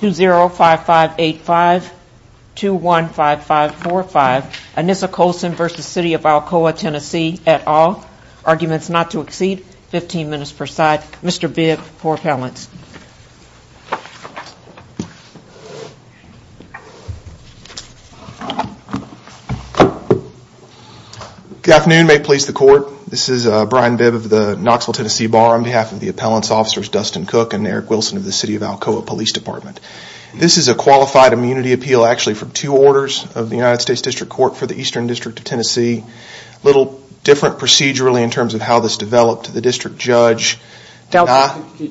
205585 215545 Anissa Colson v. City of Alcoa TN at all. Arguments not to exceed 15 minutes per side. Mr. Bibb for appellants. Good afternoon. May it please the court. This is Brian Bibb of the Knoxville, Tennessee Bar on behalf of the appellant's officers Dustin Cook and Eric Wilson of the City of Alcoa Police Department. This is a qualified immunity appeal actually from two orders of the United States District Court for the Eastern District of Tennessee. A little different procedurally in terms of how this developed. The district judge. The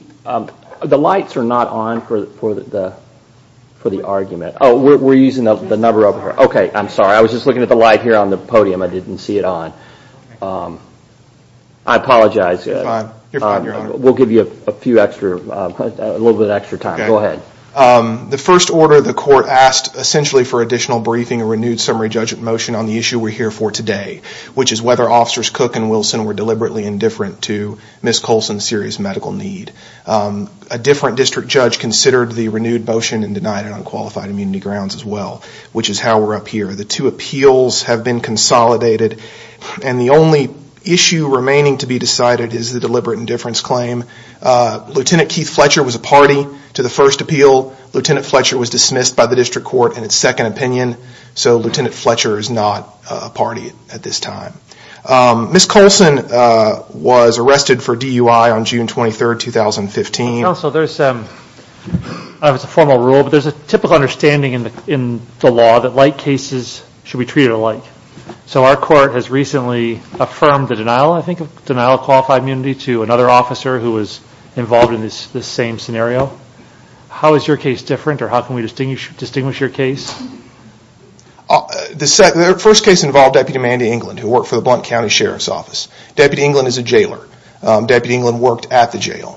lights are not on for the argument. We're using the number over here. I'm sorry. I was just looking at the light here on the podium. I didn't see it on. I apologize. We'll give you a little bit of extra time. Go ahead. The first order the court asked essentially for additional briefing a renewed summary judge motion on the issue we're here for today. Which is whether officers Cook and Wilson were deliberately indifferent to Ms. Colson's serious medical need. A different district judge considered the renewed motion and denied it on qualified immunity grounds as well. Which is how we're up here. The two appeals have been consolidated and the only issue remaining to be decided is the deliberate indifference claim. Lieutenant Keith Fletcher was a party to the first appeal. Lieutenant Fletcher was dismissed by the district court in its second opinion. So Lieutenant Fletcher is not a party at this time. Ms. Colson was arrested for DUI on June 23, 2015. Counsel, there's a formal rule but there's a typical understanding in the law that like cases should be treated alike. So our court has recently affirmed the denial of qualified immunity to another officer who was involved in this same scenario. How is your case different or how can we distinguish your case? The first case involved Deputy Mandy England who worked for the Blount County Sheriff's Office. Deputy England is a jailer. Deputy procedurally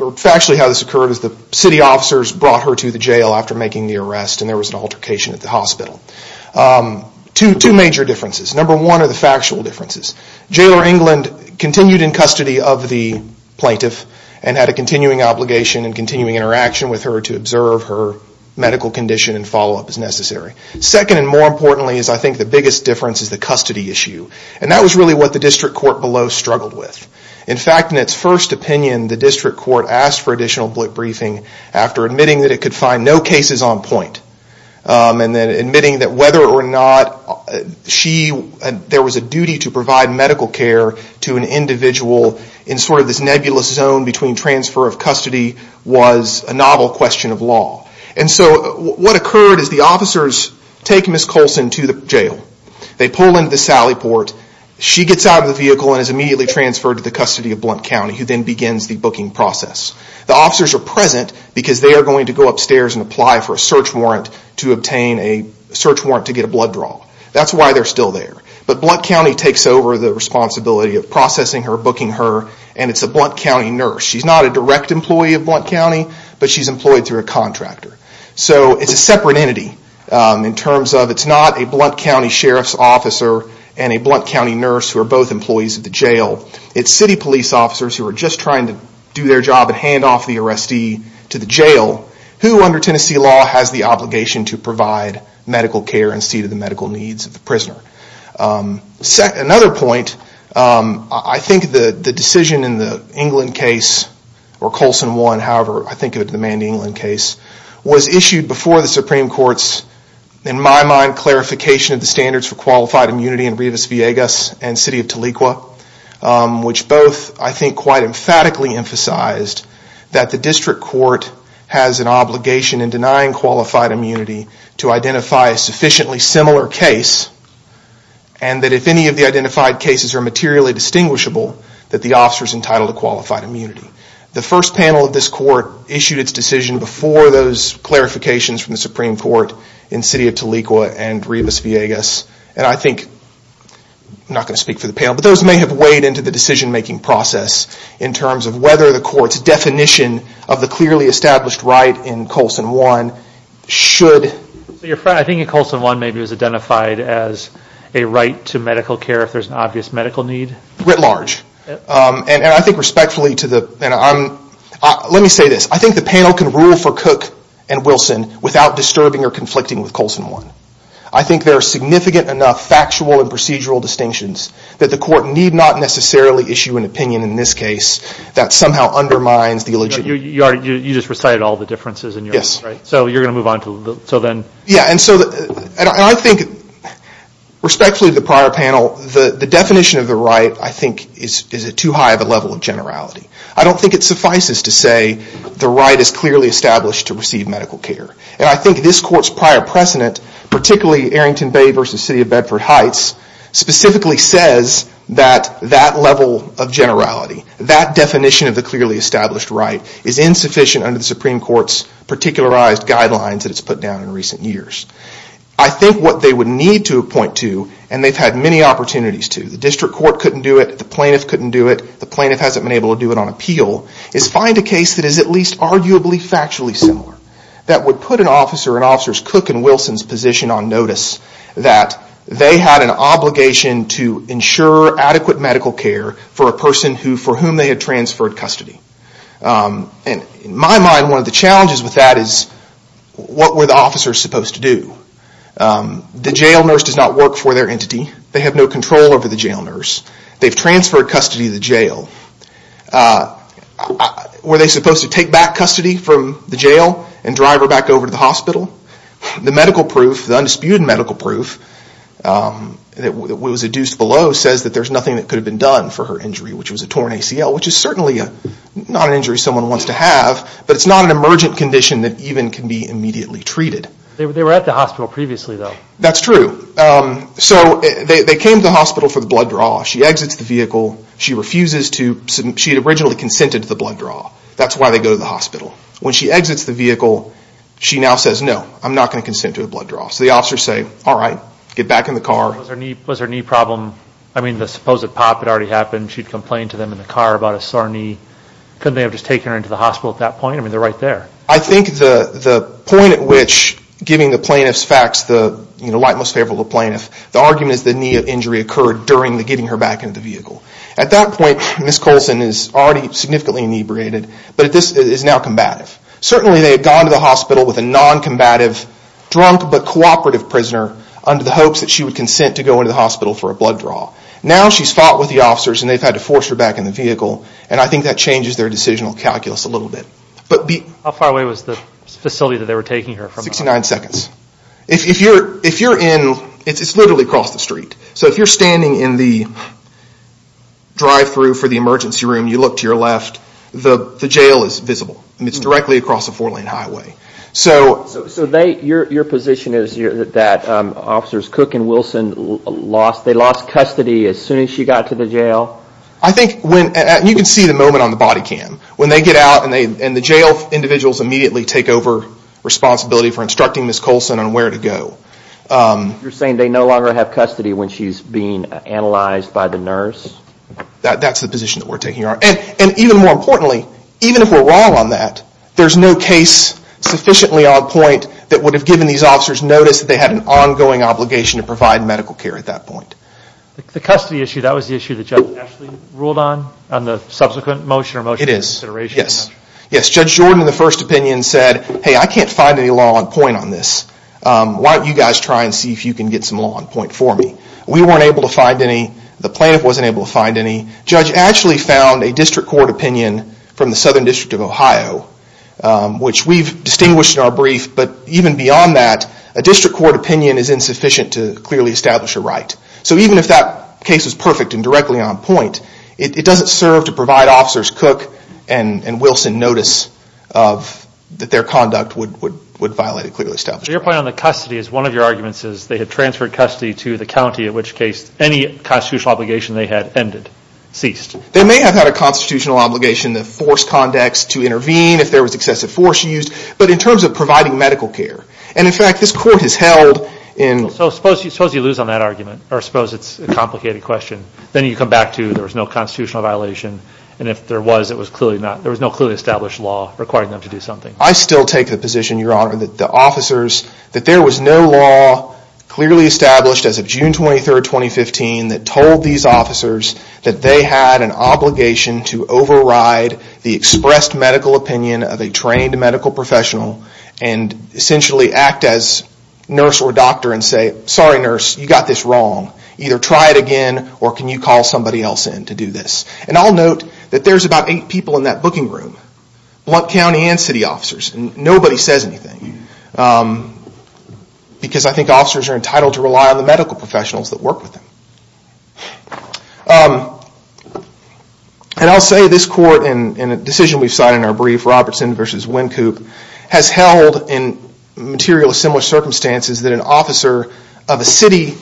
or factually how this occurred is the city officers brought her to the jail after making the arrest and there was an altercation at the hospital. Two major differences. Number one are the factual differences. Jailer England continued in custody of the plaintiff and had a continuing obligation and continuing interaction with her to observe her medical condition and follow up as necessary. Second and more importantly is I think the biggest difference is the custody issue. And that was really what the district court below struggled with. In fact in its first opinion the district court asked for additional briefing after admitting that it could find no cases on point. And then admitting that whether or not she there was a duty to provide medical care to an individual in sort of this nebulous zone between transfer of custody was a novel question of law. And so what occurred is the officers take Ms. Colson to the jail. They pull into the sally port. She gets out of the vehicle and is immediately transferred to the custody of Blount County who then begins the booking process. The officers are present because they are going to go upstairs and apply for a search warrant to obtain a search warrant to get a blood draw. That's why they're still there. But Blount County takes over the responsibility of processing her, booking her and it's a Blount County nurse. She's not a direct employee of Blount County but she's employed through a contractor. So it's a separate entity in terms of it's not a Blount County Sheriff's or a Blount County nurse who are both employees of the jail. It's city police officers who are just trying to do their job and hand off the arrestee to the jail who under Tennessee law has the obligation to provide medical care and see to the medical needs of the prisoner. Another point, I think the decision in the England case or Colson 1, however I think of it in the Mandy England case, was issued before the Supreme Court's, in my mind, clarification of the standards for qualified immunity in Rivas Villegas and City of Tahlequah. Which both I think quite emphatically emphasized that the district court has an obligation in denying qualified immunity to identify a sufficiently similar case and that if any of the identified cases are materially distinguishable that the officer is entitled to qualified immunity. The first panel of this court issued it's decision before those clarifications from the Supreme Court in City of Tahlequah and Rivas Villegas. And I think, I'm not going to speak for the panel, but those may have weighed into the decision making process in terms of whether the court's definition of the clearly established right in Colson 1 should. So your friend, I think in Colson 1 maybe it was identified as a right to medical care if there's an obvious medical need? Writ large. And I think respectfully to the, let me say this, I think the panel can rule for Cook and Wilson without disturbing or conflicting with Colson 1. I think there are significant enough factual and procedural distinctions that the court need not necessarily issue an opinion in this case that somehow undermines the illegitimate. You just recited all the differences in your mind, right? Yes. So you're going to move on to the, so then. Yeah, and so, and I think respectfully to the prior panel, the definition of the right I think is too high of a level of generality. I don't think it suffices to say the right is clearly established to receive medical care. And I think this court's prior precedent, particularly Arrington Bay v. City of Bedford Heights, specifically says that that level of generality, that definition of the clearly established right is insufficient under the Supreme Court's particularized guidelines that it's put down in recent years. I think what they would need to appoint to, and they've had many opportunities to, the district court couldn't do it, the plaintiff couldn't do it, the plaintiff hasn't been able to do it on appeal, is find a case that is at least arguably factually similar, that would put an officer in officers Cook and Wilson's position on notice that they had an obligation to ensure adequate medical care for a person for whom they had transferred custody. And in my mind, one of the challenges with that is what were the officers supposed to do? The jail nurse does not work for their entity. They have no control over the jail Were they supposed to take back custody from the jail and drive her back over to the hospital? The medical proof, the undisputed medical proof that was adduced below says that there's nothing that could have been done for her injury, which was a torn ACL, which is certainly not an injury someone wants to have, but it's not an emergent condition that even can be immediately treated. They were at the hospital previously though. That's true. So they came to the hospital for the blood draw. She exits the vehicle, she refuses to, she originally consented to the blood draw. That's why they go to the hospital. When she exits the vehicle, she now says, no, I'm not going to consent to a blood draw. So the officers say, all right, get back in the car. Was her knee problem, I mean the supposed pop had already happened, she'd complained to them in the car about a sore knee. Couldn't they have just taken her into the hospital at that point? I mean, they're right there. I think the point at which giving the plaintiff's facts, the light most favorable to the plaintiff, the argument is the knee injury occurred during the getting her back into the vehicle. At that point, Ms. Colson is already significantly inebriated, but this is now combative. Certainly they had gone to the hospital with a non-combative, drunk but cooperative prisoner under the hopes that she would consent to go into the hospital for a blood draw. Now she's fought with the officers and they've had to force her back in the vehicle, and I think that changes their decisional calculus a little bit. How far away was the facility that they were taking her from? Sixty-nine seconds. If you're in, it's literally across the street, so if you're standing in the drive-through for the emergency room, you look to your left, the jail is visible, and it's directly across a four-lane highway. Your position is that Officers Cook and Wilson lost custody as soon as she got to the jail? I think, you can see the moment on the body cam, when they get out and the jail individuals immediately take over responsibility for instructing Ms. Colson on where to go. You're saying they no longer have custody when she's being analyzed by the nurse? That's the position that we're taking. And even more importantly, even if we're wrong on that, there's no case sufficiently on point that would have given these officers notice that they had an ongoing obligation to provide medical care at that point. The custody issue, that was the issue that Judge Ashley ruled on, on the subsequent motion or motion of consideration? It is. Yes. Yes. Judge Jordan, in the first opinion, said, hey, I can't find any law on point on this. Why don't you guys try and see if you can get some law on point for me? We weren't able to find any. The plaintiff wasn't able to find any. Judge Ashley found a district court opinion from the Southern District of Ohio, which we've distinguished in our brief, but even beyond that, a district court opinion is insufficient to clearly establish a right. So even if that case is perfect and directly on point, it doesn't serve to provide Officers Cook and Wilson notice that their conduct would violate a clearly established right. So your point on the custody is one of your arguments is they had transferred custody to the county, in which case, any constitutional obligation they had ended, ceased. They may have had a constitutional obligation to force conducts to intervene if there was excessive force used, but in terms of providing medical care, and in fact, this court has held in... So suppose you lose on that argument, or suppose it's a complicated question, then you come back to, there was no constitutional violation, and if there was, there was no clearly established law requiring them to do something. I still take the position, Your Honor, that the officers... That there was no law clearly established as of June 23rd, 2015, that told these officers that they had an obligation to override the expressed medical opinion of a trained medical professional and essentially act as nurse or doctor and say, sorry nurse, you got this wrong. Either try it again, or can you call somebody else in to do this? And I'll note that there's about eight people in that booking room, Blount County and city officers, and nobody says anything, because I think officers are entitled to rely on the medical professionals that work with them. And I'll say this court, and a decision we've cited in our brief, Robertson v. Wynkoop, has held in material of similar circumstances that an officer of a city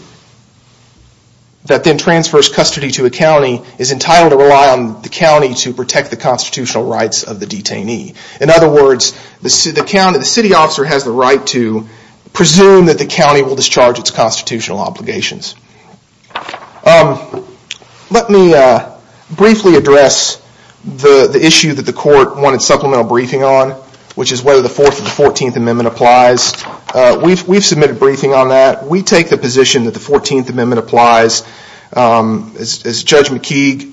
that then transfers custody to a county is entitled to rely on the county to protect the constitutional rights of the detainee. In other words, the city officer has the right to presume that the county will discharge its constitutional obligations. Let me briefly address the issue that the court wanted supplemental briefing on, which is whether the Fourth and Fourteenth Amendment applies. We've submitted a briefing on that. We take the position that the Fourteenth Amendment applies. As Judge McKeague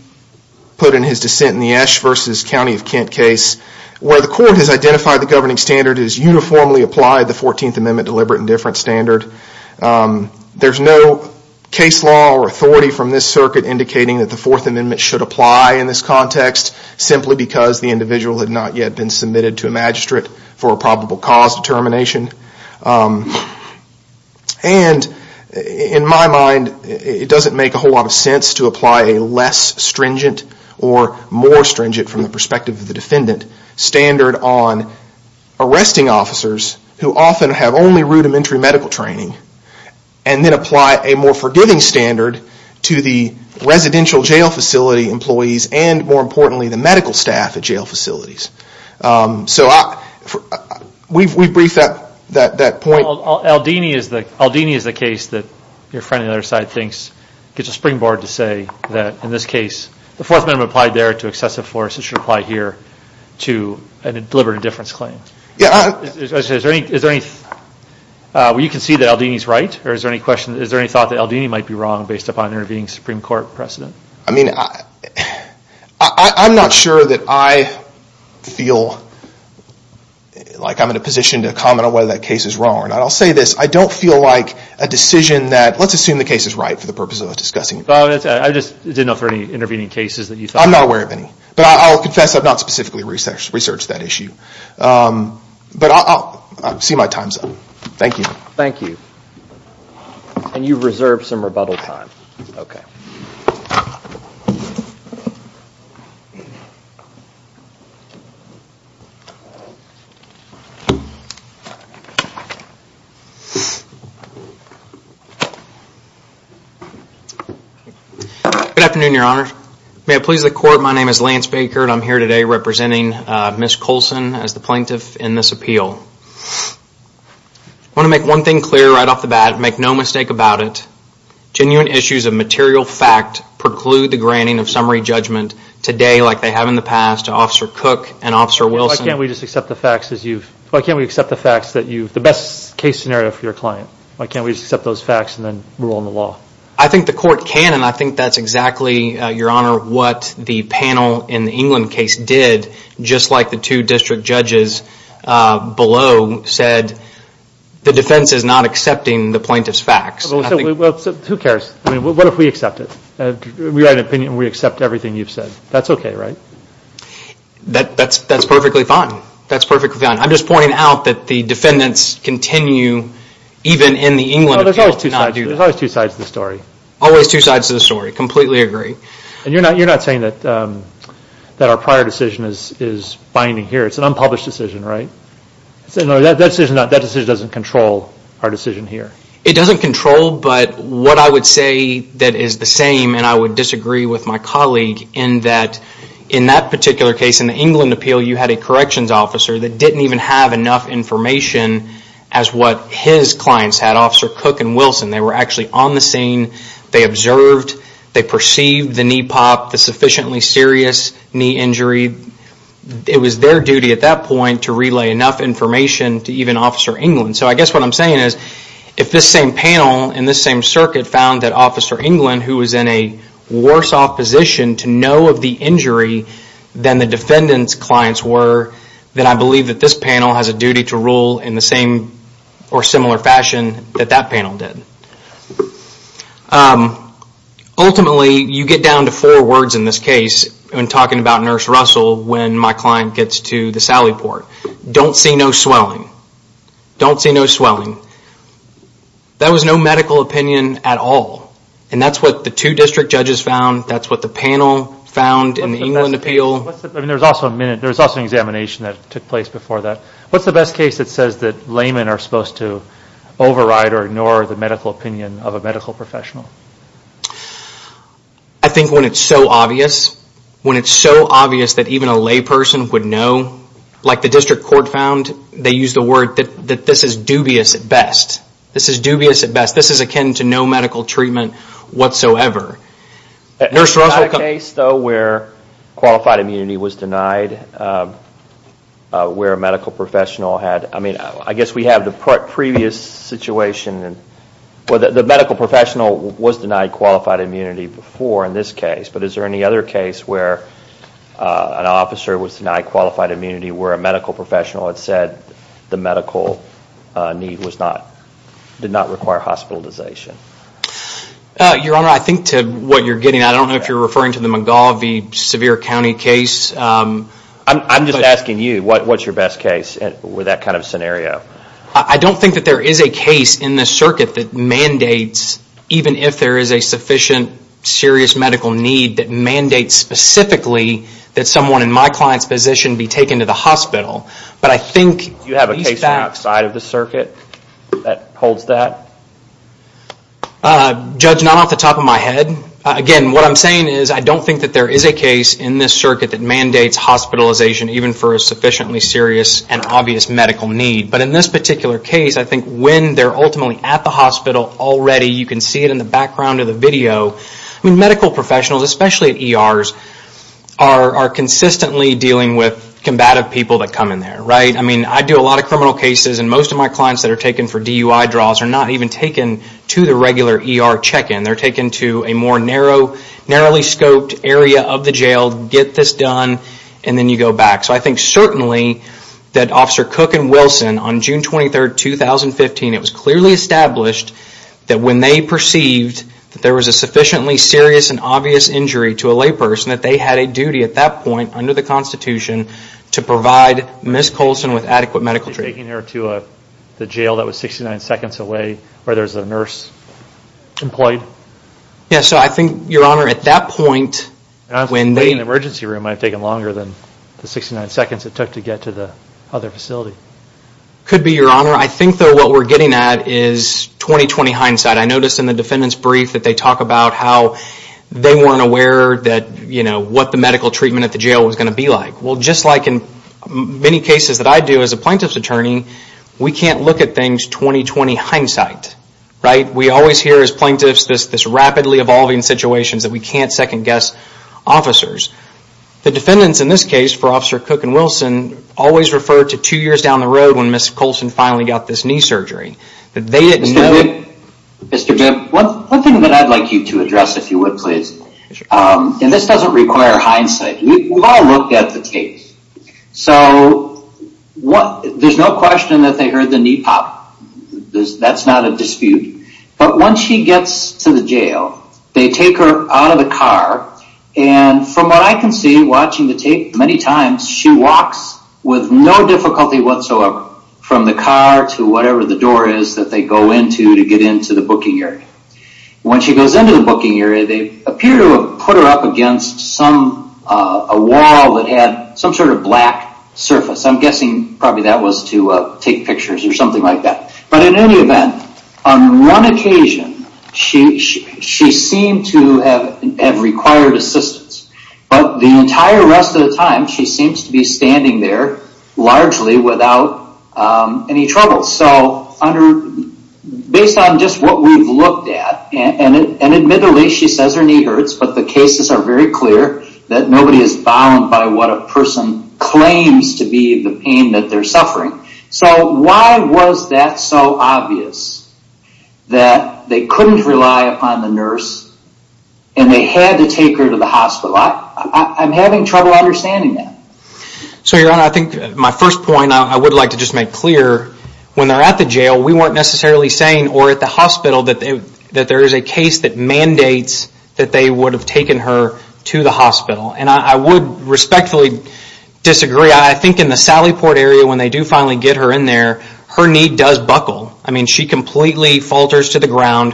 put in his dissent in the Esch v. County of Kent case, where the court has identified the governing standard, it has uniformly applied the Fourteenth Amendment deliberate indifference standard. There's no case law or authority from this circuit indicating that the Fourth Amendment should apply in this context, simply because the individual had not yet been submitted to a magistrate for probable cause determination. In my mind, it doesn't make a whole lot of sense to apply a less stringent or more stringent from the perspective of the defendant standard on arresting officers who often have only rudimentary medical training, and then apply a more forgiving standard to the residential jail facility employees, and more importantly, the medical staff at jail facilities. We've briefed that point. Aldini is the case that your friend on the other side thinks gets a springboard to say that in this case, the Fourth Amendment applied there to excessive force. It should apply here to a deliberate indifference claim. You can see that Aldini's right. Is there any thought that Aldini might be wrong based upon an intervening Supreme Court precedent? I mean, I'm not sure that I feel like I'm in a position to comment on whether that case is wrong or not. I'll say this. I don't feel like a decision that, let's assume the case is right for the purpose of discussing it. I just didn't know if there were any intervening cases that you thought. I'm not aware of any. But I'll confess I've not specifically researched that issue. But I'll see my time's up. Thank you. Thank you. And you've reserved some rebuttal time. Okay. Good afternoon, Your Honor. May it please the Court, my name is Lance Baker and I'm here today representing Ms. Colson as the plaintiff in this appeal. I want to make one thing clear right off the bat. Make no mistake about it. Genuine issues of material fact preclude the granting of summary judgment today like they have in the past to Officer Cook and Officer Wilson. Why can't we just accept the facts as you've, why can't we accept the facts that you've, the best case scenario for your client? Why can't we just accept those facts and then rule on the law? I think the Court can and I think that's exactly, Your Honor, what the panel in the England case did, just like the two district judges below said, the defense is not accepting the plaintiff's facts. Well, who cares? I mean, what if we accept it? We write an opinion and we accept everything you've said. That's okay, right? That's perfectly fine. That's perfectly fine. I'm just pointing out that the defendants continue even in the England appeal to not do that. There's always two sides to the story. Always two sides to the story. Completely agree. And you're not saying that our prior decision is binding here. It's an unpublished decision, right? That decision doesn't control our decision here. It doesn't control but what I would say that is the same and I would disagree with my colleague in that in that particular case in the England appeal you had a corrections officer that didn't even have enough information as what his clients had, Officer Cook and Wilson. They were actually on the scene. They observed. They perceived the knee pop, the sufficiently serious knee injury. It was their duty at that point to relay enough information to even Officer England. So I guess what I'm saying is if this same panel and this same circuit found that Officer England who was in a worse off position to know of the injury than the defendant's clients were, then I believe that this panel has a duty to rule in the same or similar fashion that that panel did. Ultimately, you get down to four words in this case when talking about Nurse Russell when my client gets to the Sally Port. Don't see no swelling. Don't see no swelling. That was no medical opinion at all. And that's what the two district judges found. That's what the panel found in the England appeal. There was also an examination that took place before that. What's the best case that says that laymen are supposed to override or ignore the medical opinion of a medical professional? I think when it's so obvious, when it's so obvious that even a layperson would know, like the district court found, they used the word that this is dubious at best. This is dubious at best. This is akin to no medical treatment whatsoever. Was there a case, though, where qualified immunity was denied, where a medical professional had, I mean, I guess we have the previous situation. The medical professional was denied qualified immunity before in this case, but is there any other case where an officer was denied qualified immunity where a medical professional had said the medical need did not require hospitalization? Your Honor, I think to what you're getting at, I don't know if you're referring to the McGaugh v. Sevier County case. I'm just asking you, what's your best case with that kind of scenario? I don't think that there is a case in this circuit that mandates, even if there is a sufficient serious medical need, that mandates specifically that someone in my client's position be taken to the hospital. You have a case outside of the circuit that holds that? Judge, not off the top of my head. Again, what I'm saying is I don't think that there is a case in this circuit that mandates hospitalization even for a sufficiently serious and obvious medical need. But in this particular case, I think when they're ultimately at the hospital already, you can see it in the background of the video, medical professionals, especially ERs, are I do a lot of criminal cases and most of my clients that are taken for DUI draws are not even taken to the regular ER check-in. They're taken to a more narrowly scoped area of the jail, get this done, and then you go back. So I think certainly that Officer Cook and Wilson, on June 23, 2015, it was clearly established that when they perceived that there was a sufficiently serious and obvious injury to a layperson, that they had a duty at that point under the Constitution to provide Ms. Colson with adequate medical treatment. Taking her to the jail that was 69 seconds away where there's a nurse employed? Yes, so I think, Your Honor, at that point when they... I'm waiting in the emergency room. I've taken longer than the 69 seconds it took to get to the other facility. Could be, Your Honor. I think, though, what we're getting at is 20-20 hindsight. I noticed in the defendant's brief that they talk about how they weren't aware that, you know, what the medical treatment at the jail was going to be like. Well, just like in many cases that I do as a plaintiff's attorney, we can't look at things 20-20 hindsight. Right? We always hear as plaintiffs this rapidly evolving situation that we can't second guess officers. The defendants in this case for Officer Cook and Wilson always refer to two years down the road when Ms. Colson finally got this knee surgery. Mr. Bibb, one thing that I'd like you to address, if you would, please, and this doesn't require hindsight. We've all looked at the tapes. So there's no question that they heard the knee pop. That's not a dispute. But once she gets to the jail, they take her out of the car, and from what I can see watching the tape many times, she walks with no difficulty whatsoever from the car to whatever the door is that they go into to get into the booking area. When she goes into the booking area, they appear to have put her up against a wall that had some sort of black surface. I'm guessing probably that was to take pictures or something like that. But in any event, on one occasion, she seemed to have required assistance. But the entire rest of the time, she seems to be standing there largely without any trouble. So based on just what we've looked at, and admittedly, she says her knee hurts, but the cases are very clear that nobody is bound by what a person claims to be the pain that they're suffering. So why was that so obvious that they couldn't rely upon the nurse and they had to take her to the hospital? I'm having trouble understanding that. So, Your Honor, I think my first point I would like to just make clear, when they're at the jail, we weren't necessarily saying, or at the hospital, that there is a case that mandates that they would have taken her to the hospital. And I would respectfully disagree. Yeah, I think in the Sally Port area, when they do finally get her in there, her knee does buckle. I mean, she completely falters to the ground.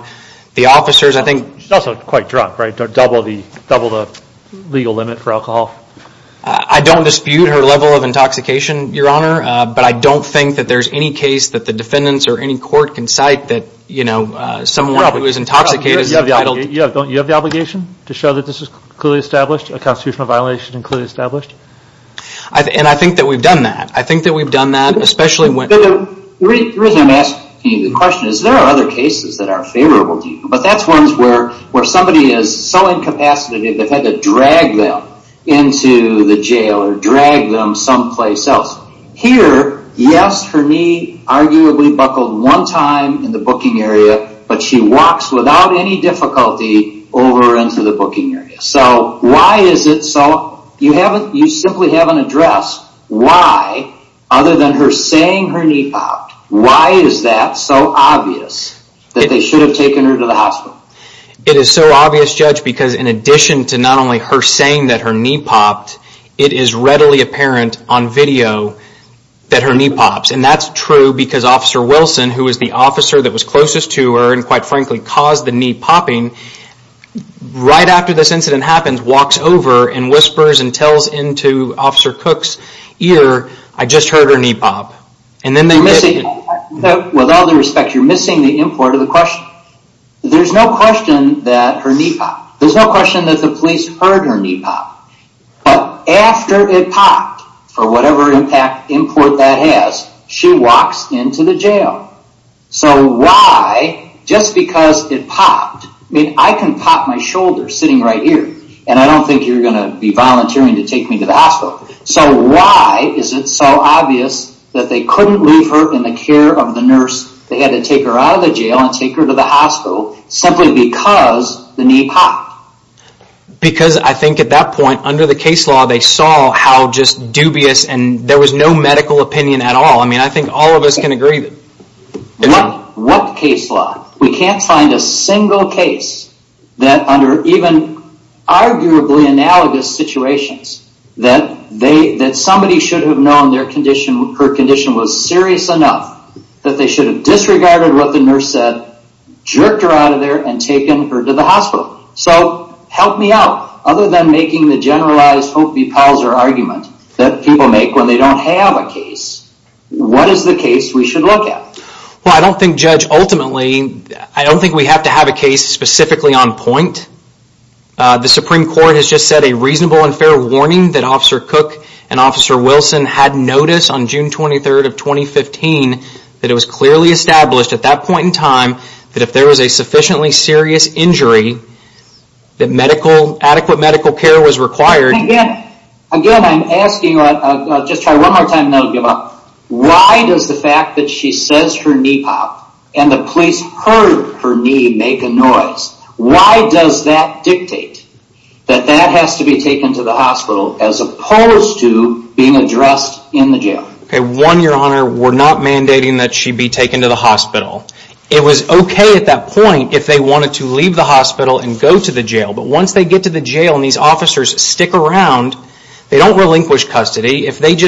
The officers, I think... She's also quite drunk, right? Double the legal limit for alcohol. I don't dispute her level of intoxication, Your Honor, but I don't think that there's any case that the defendants or any court can cite that someone who is intoxicated... You have the obligation to show that this is clearly established? A constitutional violation is clearly established? And I think that we've done that. I think that we've done that, especially when... The reason I'm asking you the question is there are other cases that are favorable to you, but that's ones where somebody is so incapacitated they've had to drag them into the jail or drag them someplace else. Here, yes, her knee arguably buckled one time in the booking area, but she walks without any difficulty over into the booking area. So why is it so... You simply haven't addressed why, other than her saying her knee popped, why is that so obvious that they should have taken her to the hospital? It is so obvious, Judge, because in addition to not only her saying that her knee popped, it is readily apparent on video that her knee pops. And that's true because Officer Wilson, who was the officer that was closest to her, and quite frankly caused the knee popping, right after this incident happens, walks over and whispers and tells into Officer Cook's ear, I just heard her knee pop. And then they... With all due respect, you're missing the import of the question. There's no question that her knee popped. There's no question that the police heard her knee pop. But after it popped, for whatever impact, import that has, she walks into the jail. So why, just because it popped, I mean, I can pop my shoulder sitting right here, and I don't think you're going to be volunteering to take me to the hospital. So why is it so obvious that they couldn't leave her in the care of the nurse, they had to take her out of the jail and take her to the hospital, simply because the knee popped? Because I think at that point, under the case law, they saw how just dubious, and there was no medical opinion at all. I mean, I think all of us can agree. What case law? We can't find a single case that, under even arguably analogous situations, that somebody should have known her condition was serious enough that they should have disregarded what the nurse said, jerked her out of there, and taken her to the hospital. So help me out. Other than making the generalized Hope B. Pauzer argument that people make when they don't have a case, what is the case we should look at? Well, I don't think, Judge, ultimately, I don't think we have to have a case specifically on point. The Supreme Court has just said a reasonable and fair warning that Officer Cook and Officer Wilson had notice on June 23rd of 2015 that it was clearly established at that point in time that if there was a sufficiently serious injury, that adequate medical care was required. Again, I'm asking, I'll just try one more time and then I'll give up. Why does the fact that she says her knee popped and the police heard her knee make a noise, why does that dictate that that has to be taken to the hospital as opposed to being addressed in the jail? One, Your Honor, we're not mandating that she be taken to the hospital. It was okay at that point if they wanted to leave the hospital and go to the jail. But once they get to the jail and these officers stick around, they don't relinquish custody. If they had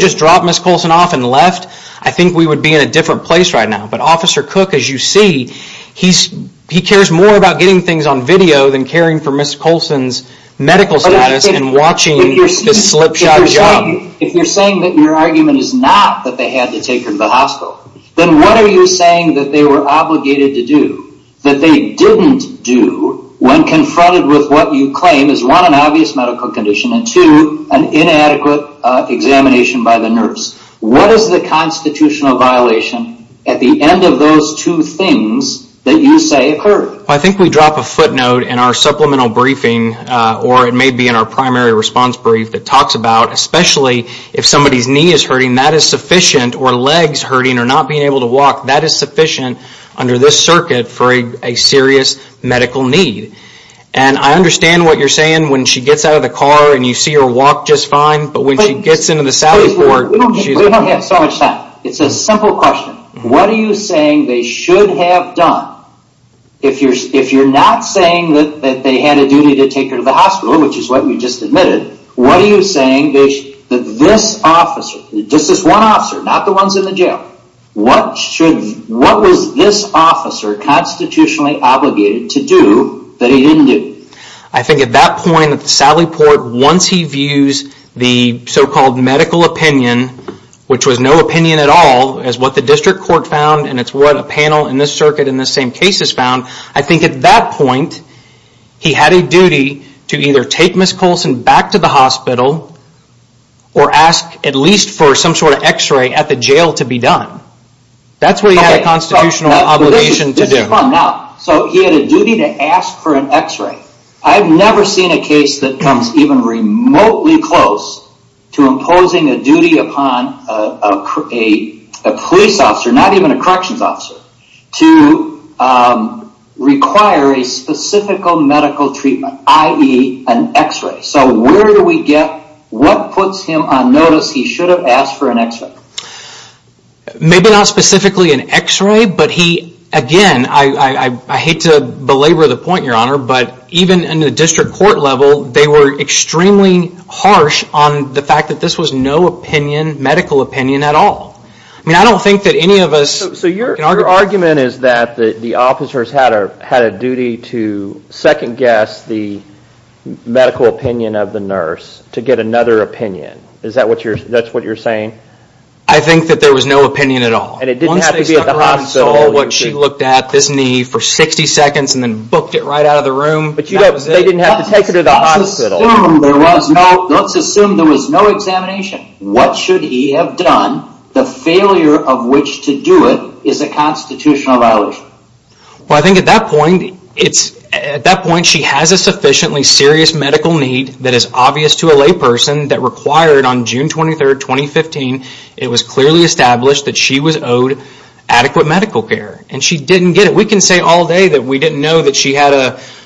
just dropped Ms. Coulson off and left, I think we would be in a different place right now. But Officer Cook, as you see, he cares more about getting things on video than caring for Ms. Coulson's medical status and watching this slipshod job. If you're saying that your argument is not that they had to take her to the hospital, then what are you saying that they were obligated to do, that they didn't do, when confronted with what you claim is one, an obvious medical condition, and two, an inadequate examination by the nurse? What is the constitutional violation at the end of those two things that you say occurred? I think we drop a footnote in our supplemental briefing, or it may be in our primary response brief, that talks about, especially if somebody's knee is hurting, that is sufficient, or leg is hurting, or not being able to walk, that is sufficient under this circuit for a serious medical need. And I understand what you're saying when she gets out of the car and you see her walk just fine, but when she gets into the salary port, she's... We don't have so much time. It's a simple question. What are you saying they should have done? If you're not saying that they had a duty to take her to the hospital, which is what we just admitted, what are you saying that this officer, just this one officer, not the ones in the jail, what was this officer constitutionally obligated to do that he didn't do? I think at that point, at the salary port, once he views the so-called medical opinion, which was no opinion at all, as what the district court found, and it's what a panel in this circuit in this same case has found, I think at that point, he had a duty to either take Ms. Colson back to the hospital, or ask at least for some sort of x-ray at the jail to be done. That's what he had a constitutional obligation to do. Now, so he had a duty to ask for an x-ray. I've never seen a case that comes even remotely close to imposing a duty upon a police officer, not even a corrections officer, to require a specific medical treatment, i.e. an x-ray. So where do we get, what puts him on notice he should have asked for an x-ray? Maybe not specifically an x-ray, but he, again, I hate to belabor the point, Your Honor, but even in the district court level, they were extremely harsh on the fact that this was no opinion, medical opinion at all. I mean, I don't think that any of us... So your argument is that the officers had a duty to second-guess the medical opinion of the nurse to get another opinion. Is that what you're, that's what you're saying? I think that there was no opinion at all. And it didn't have to be at the hospital. What she looked at, this knee, for 60 seconds, and then booked it right out of the room. They didn't have to take her to the hospital. Let's assume there was no, let's assume there was no examination. What should he have done? The failure of which to do it is a constitutional violation. Well, I think at that point, it's, at that point she has a sufficiently serious medical need that is obvious to a layperson that required on June 23rd, 2015, it was clearly established that she was owed adequate medical care. And she didn't get it. We can say all day that we didn't know that she had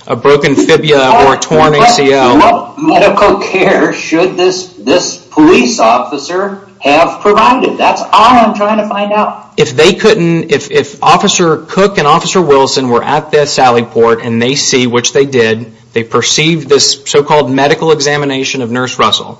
a broken fibula or a torn ACL. What medical care should this police officer have provided? That's all I'm trying to find out. If they couldn't, if Officer Cook and Officer Wilson were at this alley port and they see, which they did, they perceive this so-called medical examination of Nurse Russell,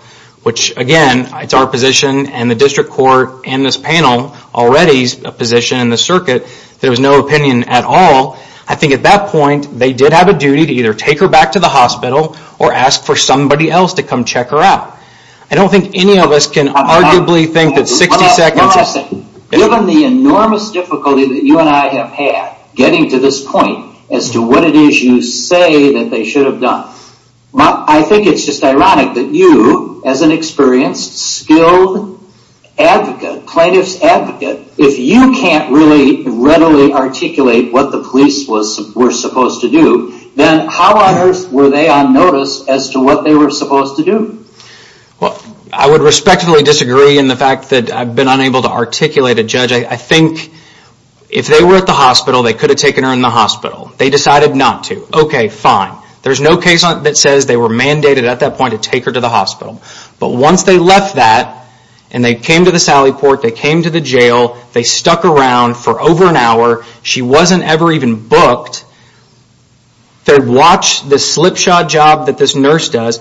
which again, it's our position and the district court and this panel already's position in the circuit, there was no opinion at all. I think at that point, they did have a duty to either take her back to the hospital or ask for somebody else to come check her out. I don't think any of us can arguably think that 60 seconds... Given the enormous difficulty that you and I have had getting to this point as to what it is you say that they should have done, I think it's just ironic that you, as an experienced, skilled advocate, plaintiff's advocate, if you can't really readily articulate what the police were supposed to do, then how on earth were they on notice as to what they were supposed to do? I would respectfully disagree in the fact that I've been unable to articulate a judge. I think if they were at the hospital, they could have taken her in the hospital. They decided not to. Okay, fine. There's no case that says they were mandated at that point to take her to the hospital. But once they left that, and they came to the Sally Port, they came to the jail, they stuck around for over an hour. She wasn't ever even booked. They watched this slipshod job that this nurse does.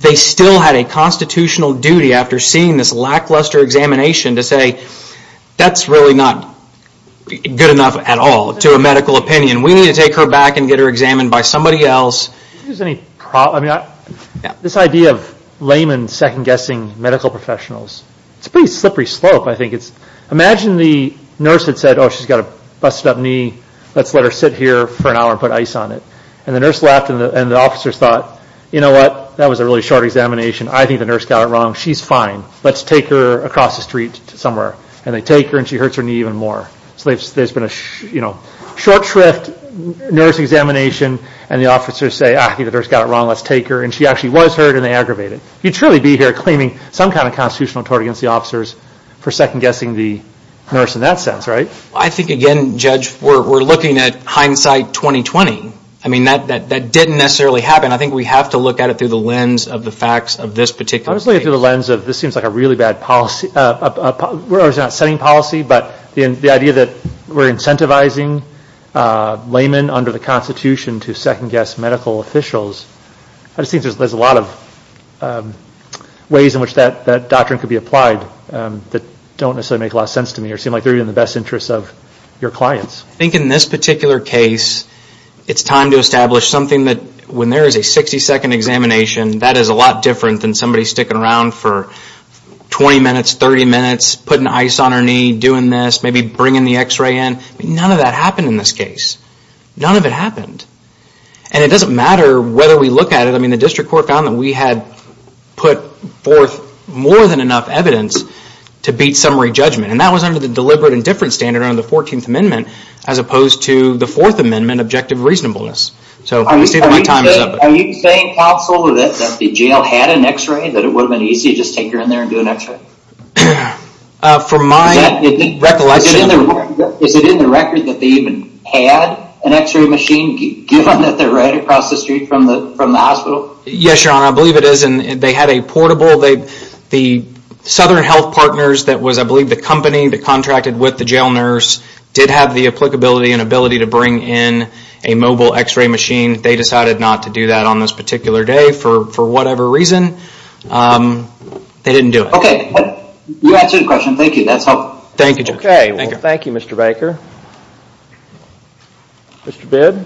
They still had a constitutional duty after seeing this lackluster examination to say, that's really not good enough at all to a medical opinion. We need to take her back and get her examined by somebody else. This idea of laymen second-guessing medical professionals, it's a pretty slippery slope. Imagine the nurse had said, oh, she's got a busted up knee, let's let her sit here for an hour and put ice on it. The nurse laughed, and the officers thought, you know what, that was a really short examination. I think the nurse got it wrong. She's fine. Let's take her across the street somewhere. They take her, and she hurts her knee even more. So there's been a short shrift, nurse examination, and the officers say, ah, the nurse got it wrong, let's take her. And she actually was hurt, and they aggravated it. You'd surely be here claiming some kind of constitutional authority against the officers for second-guessing the nurse in that sense, right? I think, again, Judge, we're looking at hindsight 2020. I mean, that didn't necessarily happen. I think we have to look at it through the lens of the facts of this particular case. I was looking through the lens of this seems like a really bad policy. We're not setting policy, but the idea that we're incentivizing laymen under the Constitution to second-guess medical officials, I just think there's a lot of ways in which that doctrine could be applied that don't necessarily make a lot of sense to me or seem like they're in the best interests of your clients. I think in this particular case, it's time to establish something that, when there is a 60-second examination, that is a lot different than somebody sticking around for 20 minutes, 30 minutes, putting ice on her knee, doing this, maybe bringing the x-ray in. None of that happened in this case. None of it happened. And it doesn't matter whether we look at it. I mean, the district court found that we had put forth more than enough evidence to beat summary judgment, and that was under the deliberate indifference standard under the 14th Amendment as opposed to the 4th Amendment objective reasonableness. So I'm just stating my times up. Are you saying, counsel, that the jail had an x-ray, that it would have been easy to just take her in there and do an x-ray? For my recollection... Is it in the record that they even had an x-ray machine, given that they're right across the street from the hospital? Yes, Your Honor, I believe it is, and they had a portable. The Southern Health Partners that was, I believe, the company that contracted with the jail nurse did have the applicability and ability to bring in a mobile x-ray machine. They decided not to do that on this particular day for whatever reason. They didn't do it. Okay. You answered the question. Thank you. That's helpful. Thank you, Judge. Okay. Well, thank you, Mr. Baker. Mr. Bidd?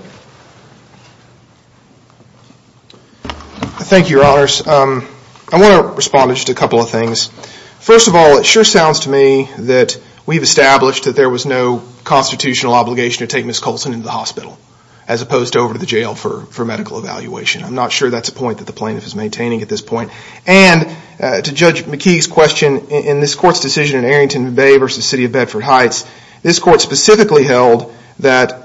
Thank you, Your Honors. I want to respond to just a couple of things. First of all, it sure sounds to me that we've established that there was no constitutional obligation to take Ms. Colson into the hospital as opposed to over to the jail for medical evaluation. I'm not sure that's a point that the plaintiff is maintaining at this point. And to Judge McKee's question, in this court's decision in Arrington Bay v. City of Bedford Heights, this court specifically held that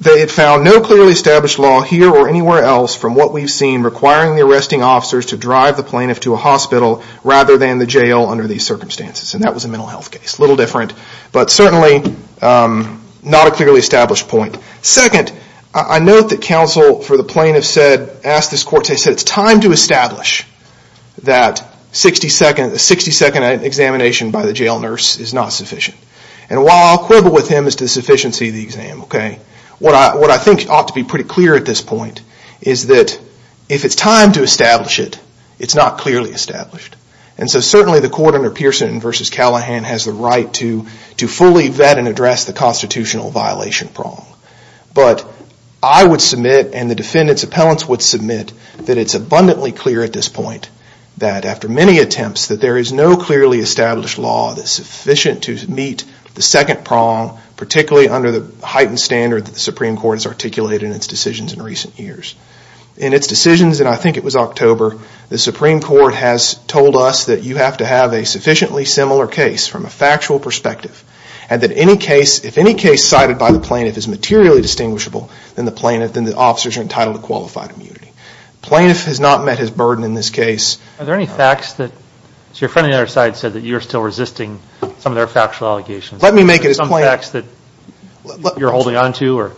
they had found no clearly established law here or anywhere else from what we've seen requiring the arresting officers to drive the plaintiff to a hospital rather than the jail under these circumstances, and that was a mental health case. It's a little different, but certainly not a clearly established point. Second, I note that counsel for the plaintiff asked this court, they said it's time to establish that a 60-second examination by the jail nurse is not sufficient. And while I'll quibble with him as to the sufficiency of the exam, what I think ought to be pretty clear at this point is that if it's time to establish it, it's not clearly established. And so certainly the court under Pearson v. Callahan has the right to fully vet and address the constitutional violation prong. But I would submit and the defendant's appellants would submit that it's abundantly clear at this point that after many attempts that there is no clearly established law that's sufficient to meet the second prong, particularly under the heightened standard that the Supreme Court has articulated in its decisions in recent years. In its decisions, and I think it was October, the Supreme Court has told us that you have to have a sufficiently similar case from a factual perspective. And that if any case cited by the plaintiff is materially distinguishable, then the officers are entitled to qualified immunity. Plaintiff has not met his burden in this case. Are there any facts that your friend on the other side said that you're still resisting some of their factual allegations? Let me make it as plain as I can. Some facts that you're holding on to?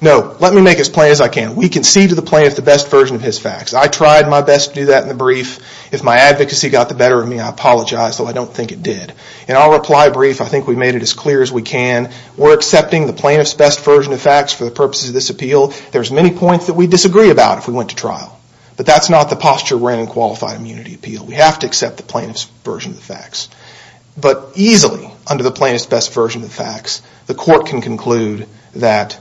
No, let me make it as plain as I can. We concede to the plaintiff the best version of his facts. I tried my best to do that in the brief. If my advocacy got the better of me, I apologize, though I don't think it did. In our reply brief, I think we made it as clear as we can. We're accepting the plaintiff's best version of the facts for the purposes of this appeal. There's many points that we disagree about if we went to trial. But that's not the posture we're in in qualified immunity appeal. We have to accept the plaintiff's version of the facts. But easily, under the plaintiff's best version of the facts, the court can conclude that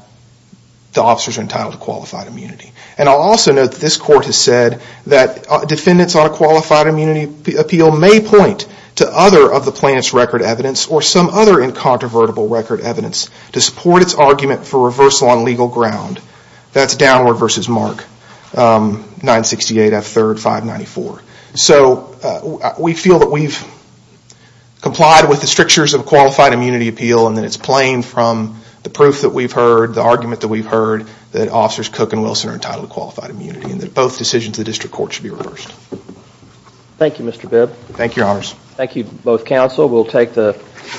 the officers are entitled to qualified immunity. And I'll also note that this court has said that defendants on a qualified immunity appeal may point to other of the plaintiff's record evidence or some other incontrovertible record evidence to support its argument for reversal on legal ground. That's Downward v. Mark, 968 F. 3rd 594. So we feel that we've complied with the strictures of qualified immunity appeal and that it's plain from the proof that we've heard, the argument that we've heard, that officers Cook and Wilson are entitled to qualified immunity and that both decisions of the district court should be reversed. Thank you, Mr. Bibb. Thank you, Your Honors. Thank you, both counsel. We'll take the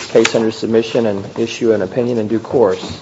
case under submission and issue an opinion in due course.